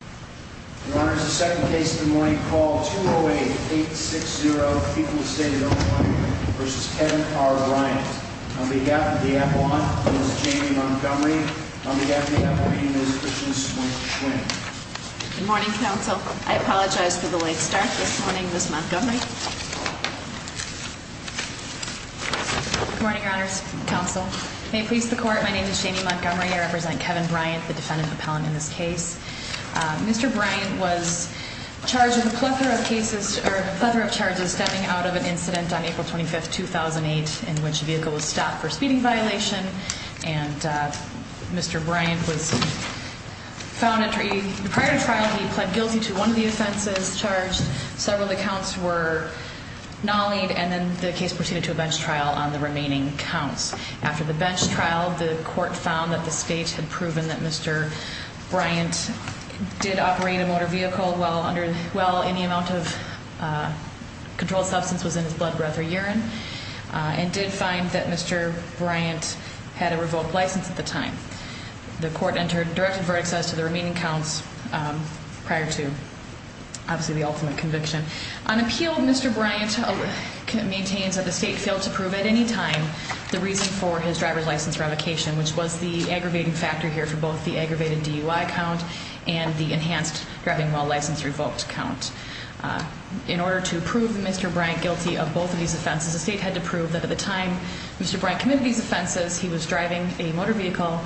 208-860-People-of-State-of-the-Morning v. Kevin R. Bryant Good morning, Counsel. I apologize for the late start this morning, Ms. Montgomery. I represent Kevin Bryant, the defendant appellant in this case. Mr. Bryant was charged with a plethora of charges stemming out of an incident on April 25, 2008, in which a vehicle was stopped for speeding violation. Prior to trial, Mr. Bryant pled guilty to one of the offenses charged. Several of the counts were nollied, and then the case proceeded to a bench trial on the remaining counts. After the bench trial, the court found that the state had proven that Mr. Bryant did operate a motor vehicle while any amount of controlled substance was in his blood, breath, or urine. It did find that Mr. Bryant had a revoked license at the time. The court directed verdicts as to the remaining counts prior to, obviously, the ultimate conviction. On appeal, Mr. Bryant maintains that the state failed to prove at any time the reason for his driver's license revocation, which was the aggravating factor here for both the aggravated DUI count and the enhanced driving while license revoked count. In order to prove Mr. Bryant guilty of both of these offenses, the state had to prove that at the time Mr. Bryant committed these offenses, he was driving a motor vehicle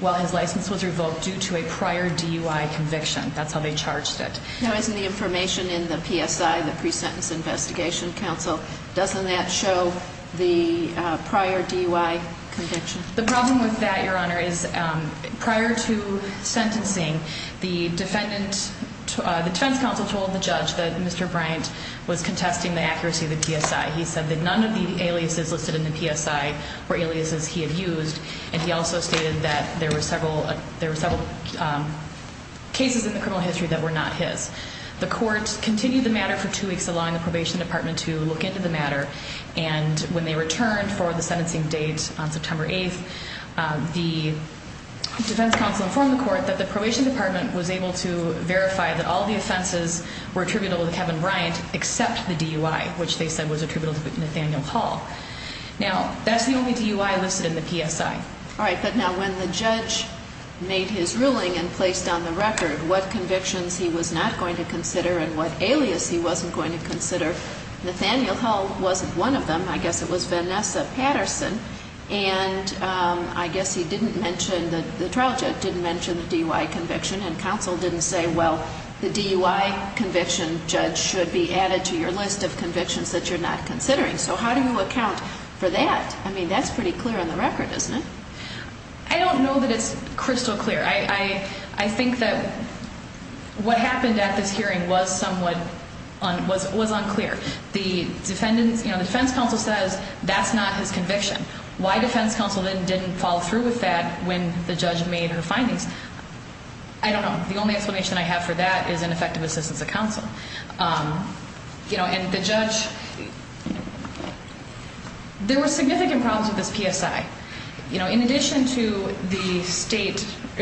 while his license was revoked due to a prior DUI conviction. That's how they charged it. Now, isn't the information in the PSI, the Pre-Sentence Investigation Council, doesn't that show the prior DUI conviction? The problem with that, Your Honor, is prior to sentencing, the defense counsel told the judge that Mr. Bryant was contesting the accuracy of the PSI. He said that none of the aliases listed in the PSI were aliases he had used, and he also stated that there were several cases in the criminal history that were not his. The court continued the matter for two weeks, allowing the probation department to look into the matter, and when they returned for the sentencing date on September 8th, the defense counsel informed the court that the probation department was able to verify that all the offenses were attributable to Kevin Bryant, except the DUI, which they said was attributable to Nathaniel Hall. Now, that's the only DUI listed in the PSI. All right, but now when the judge made his ruling and placed on the record what convictions he was not going to consider and what alias he wasn't going to consider, Nathaniel Hall wasn't one of them. I guess it was Vanessa Patterson, and I guess he didn't mention, the trial judge didn't mention the DUI conviction, and counsel didn't say, well, the DUI conviction judge should be added to your list of convictions that you're not considering. So how do you account for that? I mean, that's pretty clear on the record, isn't it? I don't know that it's crystal clear. I think that what happened at this hearing was somewhat unclear. The defense counsel says that's not his conviction. Why defense counsel then didn't follow through with that when the judge made her findings, I don't know. The only explanation I have for that is ineffective assistance of counsel. And the judge, there were significant problems with this PSI. In addition to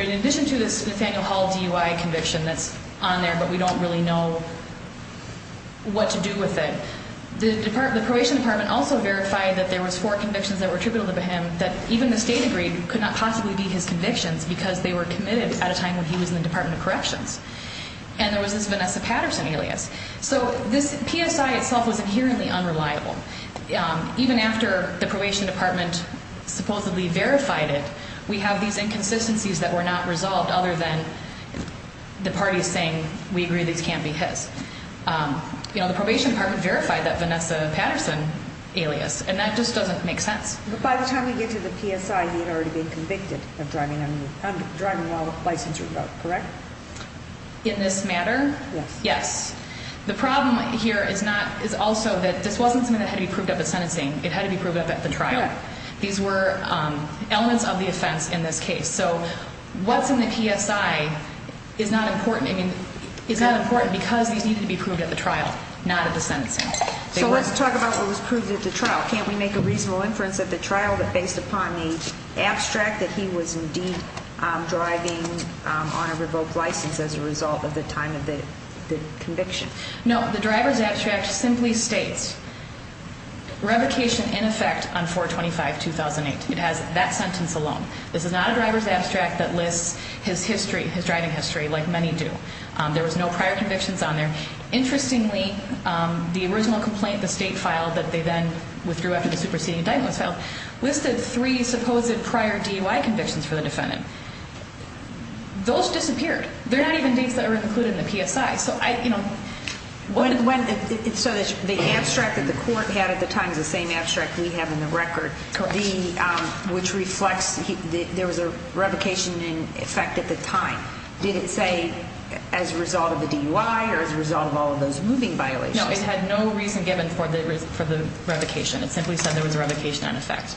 this Nathaniel Hall DUI conviction that's on there, but we don't really know what to do with it, the probation department also verified that there was four convictions that were attributable to him that even the state agreed could not possibly be his convictions because they were committed at a time when he was in the Department of Corrections. And there was this Vanessa Patterson alias. So this PSI itself was inherently unreliable. Even after the probation department supposedly verified it, we have these inconsistencies that were not resolved other than the parties saying we agree these can't be his. You know, the probation department verified that Vanessa Patterson alias, and that just doesn't make sense. But by the time we get to the PSI, he had already been convicted of driving while licensed, correct? In this matter? Yes. The problem here is also that this wasn't something that had to be proved at the sentencing. It had to be proved at the trial. These were elements of the offense in this case. So what's in the PSI is not important because these needed to be proved at the trial, not at the sentencing. So let's talk about what was proved at the trial. Can't we make a reasonable inference at the trial that based upon the abstract that he was indeed driving on a revoked license as a result of the time of the conviction? No, the driver's abstract simply states revocation in effect on 4-25-2008. It has that sentence alone. This is not a driver's abstract that lists his history, his driving history, like many do. There was no prior convictions on there. Interestingly, the original complaint, the state file that they then withdrew after the superseding indictment was filed, listed three supposed prior DUI convictions for the defendant. Those disappeared. They're not even dates that are included in the PSI. So I, you know, what... So the abstract that the court had at the time is the same abstract we have in the record, which reflects there was a revocation in effect at the time. Did it say as a result of the DUI or as a result of all of those moving violations? No, it had no reason given for the revocation. It simply said there was a revocation in effect.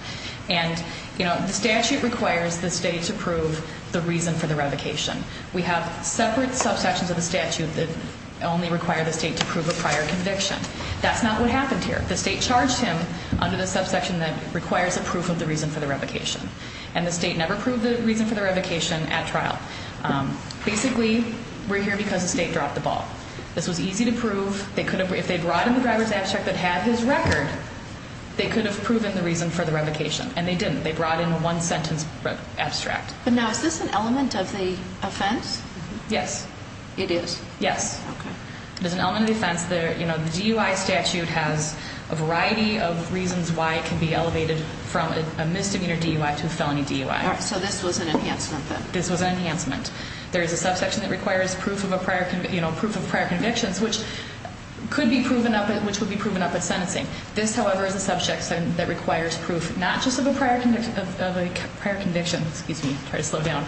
And, you know, the statute requires the state to prove the reason for the revocation. We have separate subsections of the statute that only require the state to prove a prior conviction. That's not what happened here. The state charged him under the subsection that requires a proof of the reason for the revocation. And the state never proved the reason for the revocation at trial. Basically, we're here because the state dropped the ball. This was easy to prove. They could have... If they brought in the driver's abstract that had his record, they could have proven the reason for the revocation. And they didn't. They brought in a one-sentence abstract. But now, is this an element of the offense? Yes. It is? Yes. Okay. It is an element of the offense. You know, the DUI statute has a variety of reasons why it can be elevated from a misdemeanor DUI to a felony DUI. All right. So this was an enhancement, then? This was an enhancement. There is a subsection that requires proof of a prior conviction, you know, proof of prior convictions, which could be proven up at... which would be proven up at sentencing. This, however, is a subsection that requires proof not just of a prior conviction... of a prior conviction. Excuse me. Try to slow down.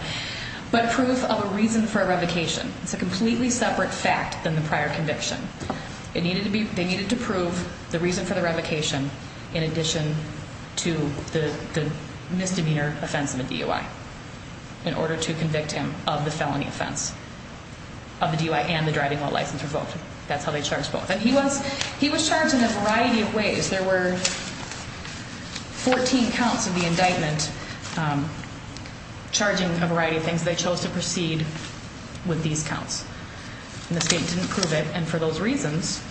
But proof of a reason for a revocation. It's a completely separate fact than the prior conviction. It needed to be... They needed to prove the reason for the revocation in addition to the misdemeanor offense of a DUI in order to convict him of the felony offense of the DUI and the driving while license revoked. That's how they charged both. And he was charged in a variety of ways. There were 14 counts of the indictment charging a variety of things. They chose to proceed with these counts. And the state didn't prove it. And for those reasons,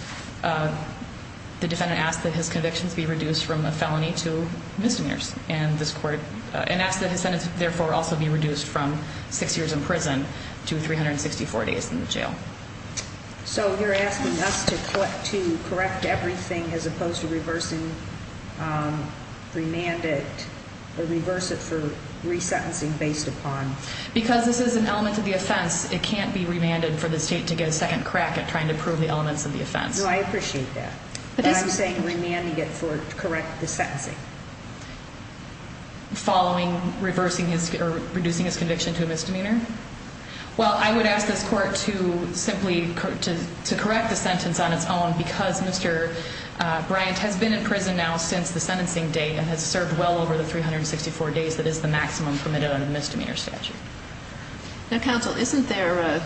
the defendant asked that his convictions be reduced from a felony to misdemeanors. And this court... And asked that his sentence, therefore, also be reduced from six years in prison to 364 days in the jail. So you're asking us to correct everything as opposed to reversing the mandate or reverse it for resentencing based upon... Because this is an element of the offense. It can't be remanded for the state to get a second crack at trying to prove the elements of the offense. No, I appreciate that. But I'm saying remanding it for... Correct the sentencing. Following... Reducing his conviction to a misdemeanor? Well, I would ask this court to simply correct the sentence on its own because Mr. Bryant has been in prison now since the sentencing date and has served well over the 364 days that is the maximum permitted under the misdemeanor statute. Now, counsel, isn't there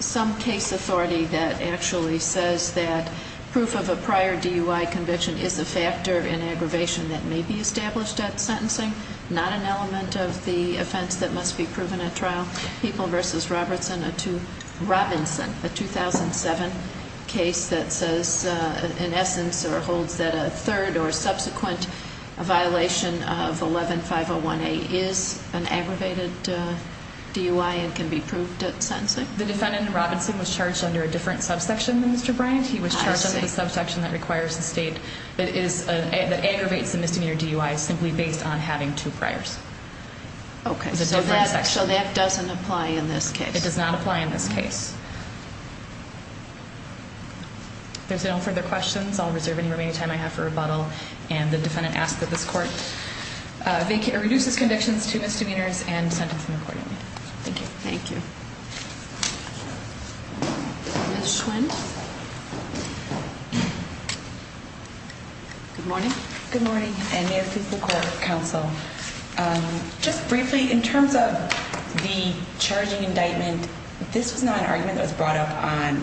some case authority that actually says that proof of a prior DUI conviction is a factor in aggravation that may be established at sentencing, not an element of the offense that must be proven at trial? People v. Robertson, a 2007 case that says, in essence, or holds that a third or subsequent violation of 11-501A is an aggravated DUI and can be proved at sentencing? The defendant in Robertson was charged under a different subsection than Mr. Bryant. He was charged under the subsection that aggravates the misdemeanor DUI simply based on having two priors. Okay, so that doesn't apply in this case. It does not apply in this case. There's no further questions. I'll reserve any remaining time I have for rebuttal. And the defendant asks that this court reduce its convictions to misdemeanors and sentence them accordingly. Thank you. Thank you. Ms. Schwendt. Good morning. Good morning. And may it please the court, counsel. Just briefly, in terms of the charging indictment, this was not an argument that was brought up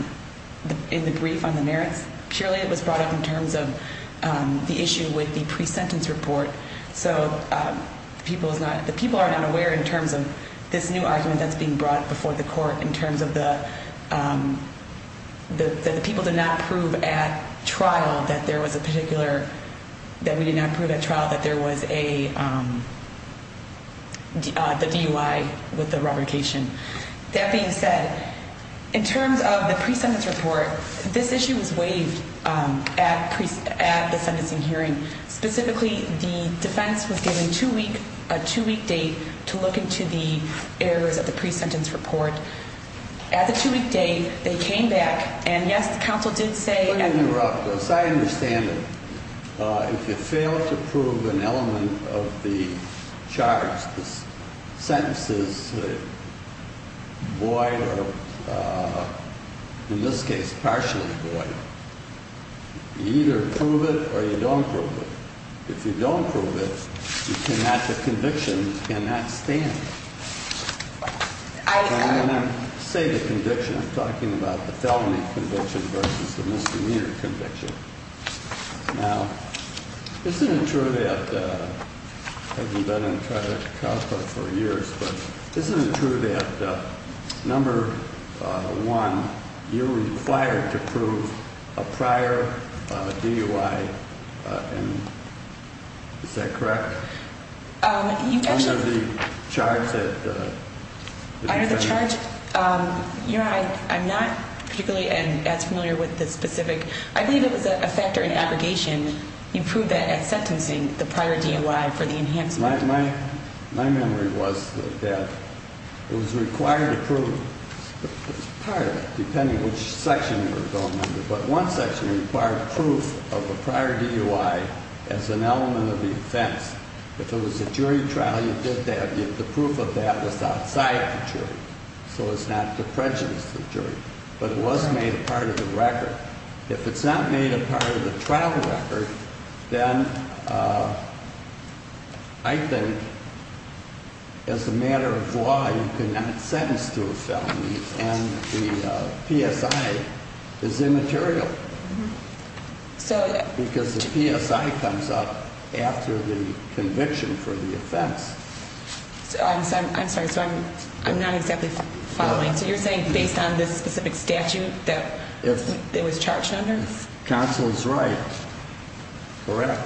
in the brief on the merits. Purely it was brought up in terms of the issue with the pre-sentence report. So the people are not aware in terms of this new argument that's being brought before the court in terms of the people did not prove at trial that there was a particular – that we did not prove at trial that there was a – the DUI with the revocation. That being said, in terms of the pre-sentence report, this issue was waived at the sentencing hearing. Specifically, the defense was given a two-week date to look into the errors of the pre-sentence report. At the two-week date, they came back, and yes, the counsel did say – Let me interrupt. As I understand it, if you fail to prove an element of the charge, the sentence is void or, in this case, partially void. You either prove it or you don't prove it. If you don't prove it, you cannot – the conviction cannot stand. And when I say the conviction, I'm talking about the felony conviction versus the misdemeanor conviction. Now, isn't it true that – I haven't been on trial at CACA for years, but isn't it true that, number one, you're required to prove a prior DUI and – is that correct? Under the charge that – Under the charge? Your Honor, I'm not particularly as familiar with the specific – I believe it was a factor in aggregation. You proved that at sentencing, the prior DUI for the enhancement. My memory was that it was required to prove – part of it, depending on which section you were going under, but one section required proof of a prior DUI as an element of the offense. If it was a jury trial, you did that. The proof of that was outside the jury, so it's not to prejudice the jury. But it was made a part of the record. If it's not made a part of the trial record, then I think, as a matter of law, you cannot sentence to a felony. And the PSI is immaterial because the PSI comes up after the conviction for the offense. I'm sorry, so I'm not exactly following. So you're saying based on this specific statute that it was charged under? If counsel is right, correct.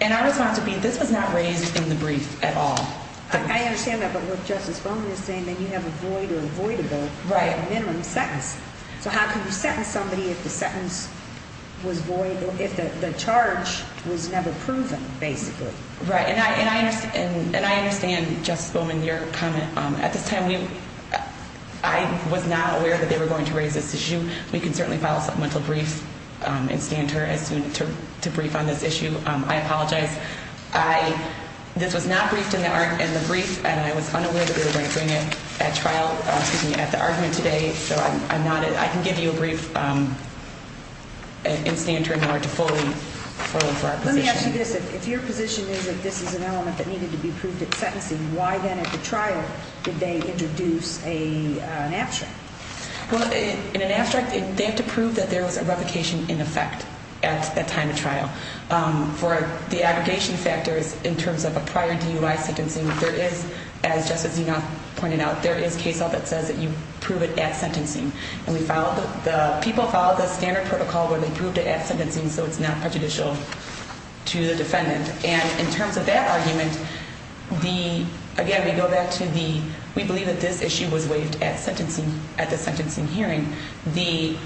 And our response would be, this was not raised in the brief at all. I understand that, but what Justice Bowman is saying, then you have a void or avoidable minimum sentence. So how can you sentence somebody if the sentence was void or if the charge was never proven, basically? Right, and I understand, Justice Bowman, your comment. At this time, I was not aware that they were going to raise this issue. We can certainly file a supplemental brief and stand to brief on this issue. I apologize. This was not briefed in the brief, and I was unaware that they were going to bring it at trial, excuse me, at the argument today. So I can give you a brief and stand to ignore it fully for our position. Let me ask you this. If your position is that this is an element that needed to be proved at sentencing, why then at the trial did they introduce an abstract? Well, in an abstract, they have to prove that there was a revocation in effect at the time of trial. For the aggregation factors in terms of a prior DUI sentencing, there is, as Justice Zenoth pointed out, there is case law that says that you prove it at sentencing. And the people follow the standard protocol where they prove it at sentencing so it's not prejudicial to the defendant. And in terms of that argument, again, we go back to the we believe that this issue was waived at the sentencing hearing. The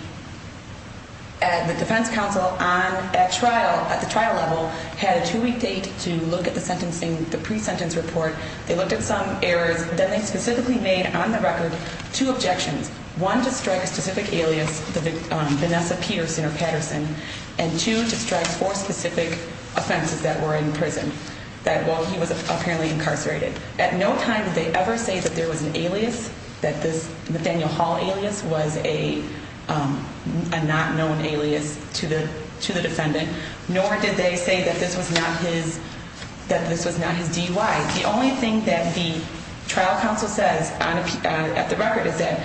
defense counsel at the trial level had a two-week date to look at the pre-sentence report. They looked at some errors. Then they specifically made on the record two objections, one to strike a specific alias, the Vanessa Peterson or Patterson, and two to strike four specific offenses that were in prison, that, well, he was apparently incarcerated. At no time did they ever say that there was an alias, that this Nathaniel Hall alias was a not known alias to the defendant, nor did they say that this was not his DUI. The only thing that the trial counsel says at the record is that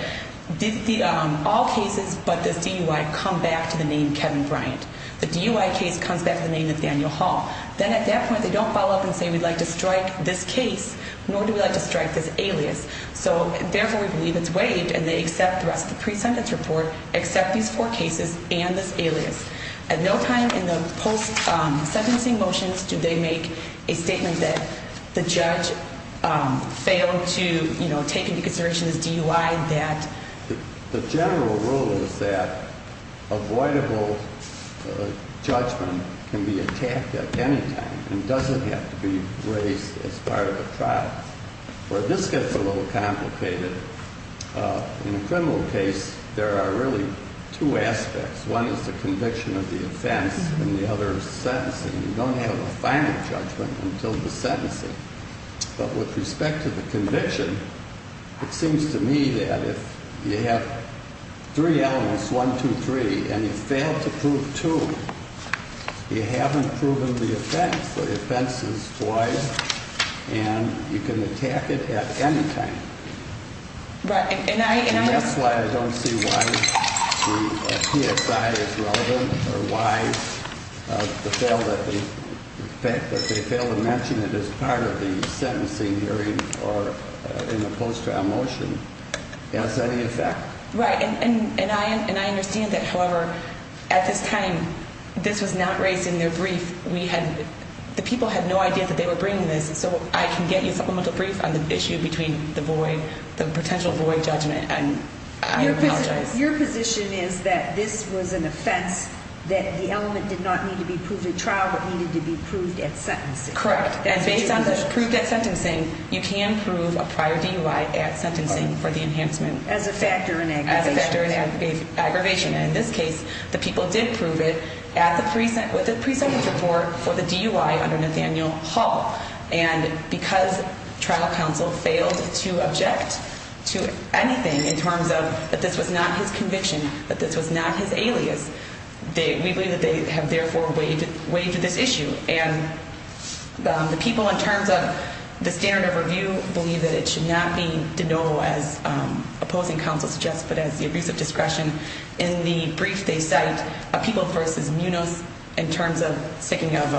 all cases but this DUI come back to the name Kevin Bryant. The DUI case comes back to the name Nathaniel Hall. Then at that point they don't follow up and say we'd like to strike this case, nor do we like to strike this alias. So therefore we believe it's waived and they accept the rest of the pre-sentence report, accept these four cases and this alias. At no time in the post-sentencing motions do they make a statement that the judge failed to take into consideration his DUI, that... The general rule is that avoidable judgment can be attacked at any time and doesn't have to be raised as part of a trial. Where this gets a little complicated, in a criminal case there are really two aspects. One is the conviction of the offense and the other is the sentencing. You don't have a final judgment until the sentencing. But with respect to the conviction, it seems to me that if you have three elements, one, two, three, and you fail to prove two, you haven't proven the offense. The offense is waived and you can attack it at any time. That's why I don't see why the PSI is relevant or why the fact that they failed to mention it as part of the sentencing hearing or in the post-trial motion has any effect. Right, and I understand that, however, at this time this was not raised in their brief. The people had no idea that they were bringing this, so I can get you a supplemental brief on the issue between the potential void judgment and I apologize. Your position is that this was an offense that the element did not need to be proved at trial but needed to be proved at sentencing. Correct, and based on the proved at sentencing, you can prove a prior DUI at sentencing for the enhancement. As a factor in aggravation. In this case, the people did prove it with a pre-sentence report for the DUI under Nathaniel Hall. And because trial counsel failed to object to anything in terms of that this was not his conviction, that this was not his alias, we believe that they have therefore waived this issue. The people, in terms of the standard of review, believe that it should not be denoued as opposing counsel suggests but as the abuse of discretion. In the brief they cite, People v. Munos, in terms of speaking of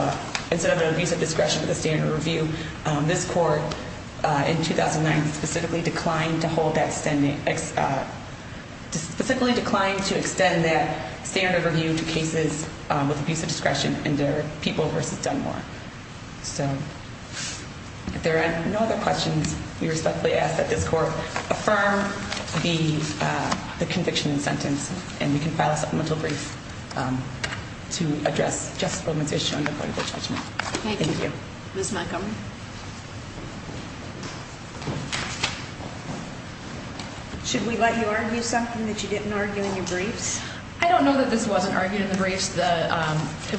instead of the abuse of discretion but the standard of review, this court in 2009 specifically declined to extend that standard of review to cases with abuse of discretion under People v. Dunmore. So, if there are no other questions, we respectfully ask that this court affirm the conviction and sentence and we can file a supplemental brief to address justification on the point of the judgment. Thank you. Ms. Montgomery. Should we let you argue something that you didn't argue in your briefs? I don't know that this wasn't argued in the briefs. The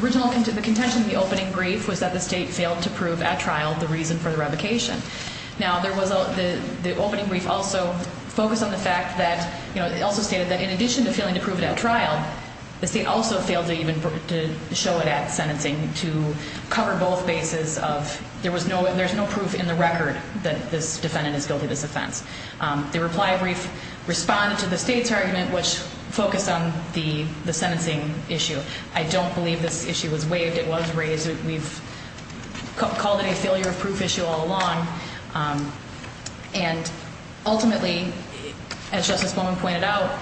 original, the contention in the opening brief was that the state failed to prove at trial the reason for the revocation. Now, there was, the opening brief also focused on the fact that, you know, it also stated that in addition to failing to prove it at trial, the state also failed to even show it at sentencing to cover both bases of there was no, there's no proof in the record that this defendant is guilty of this offense. The reply brief responded to the state's argument which focused on the sentencing issue. I don't believe this issue was waived. It was raised. We've called it a failure of proof issue all along. And ultimately, as Justice Bowman pointed out,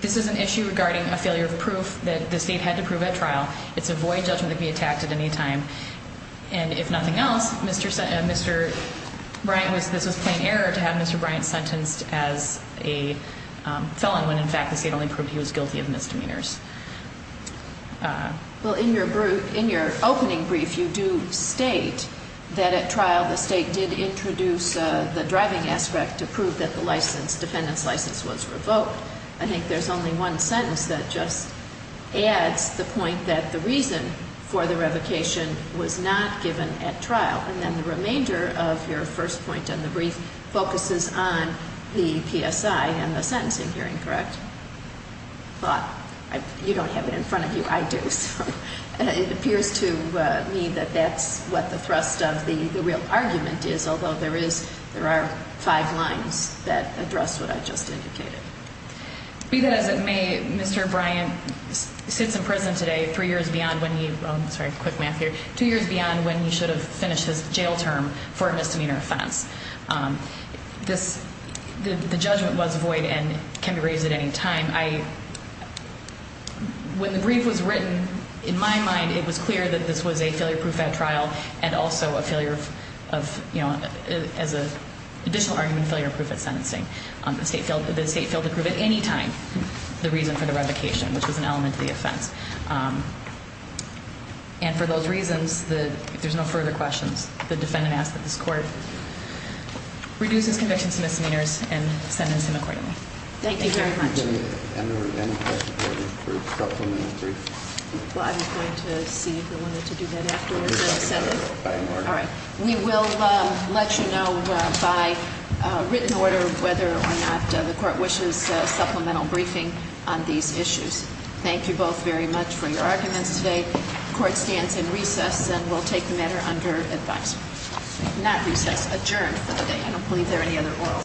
this is an issue regarding a failure of proof that the state had to prove at trial. It's a void judgment that can be attacked at any time. And if nothing else, Mr. Bryant was, this was plain error to have Mr. Bryant sentenced as a felon when, in fact, the state only proved he was guilty of misdemeanors. Well, in your opening brief, you do state that at trial the state did introduce the driving aspect to prove that the license, defendant's license was revoked. I think there's only one sentence that just adds the point that the reason for the revocation was not given at trial. And then the remainder of your first point in the brief focuses on the PSI and the sentencing hearing, correct? Well, you don't have it in front of you. I do. It appears to me that that's what the thrust of the real argument is, although there is, there are five lines that address what I just indicated. Be that as it may, Mr. Bryant sits in prison today three years beyond when he, sorry, quick math here, two years beyond when he should have finished his jail term for a misdemeanor offense. This, the judgment was void and can be raised at any time. When the brief was written, in my mind, it was clear that this was a failure-proof at trial and also a failure of, you know, as an additional argument, failure-proof at sentencing. The state failed to prove at any time the reason for the revocation, which was an element of the offense. And for those reasons, if there's no further questions, the defendant asks that this court reduce his conviction to misdemeanors and sentence him accordingly. Thank you very much. And are there any questions for supplementary? Well, I was going to see if you wanted to do that afterwards. All right. We will let you know by written order whether or not the court wishes supplemental briefing on these issues. Thank you both very much for your arguments today. The court stands in recess and will take the matter under advice. Not recess, adjourned for the day. I don't believe there are any other oral-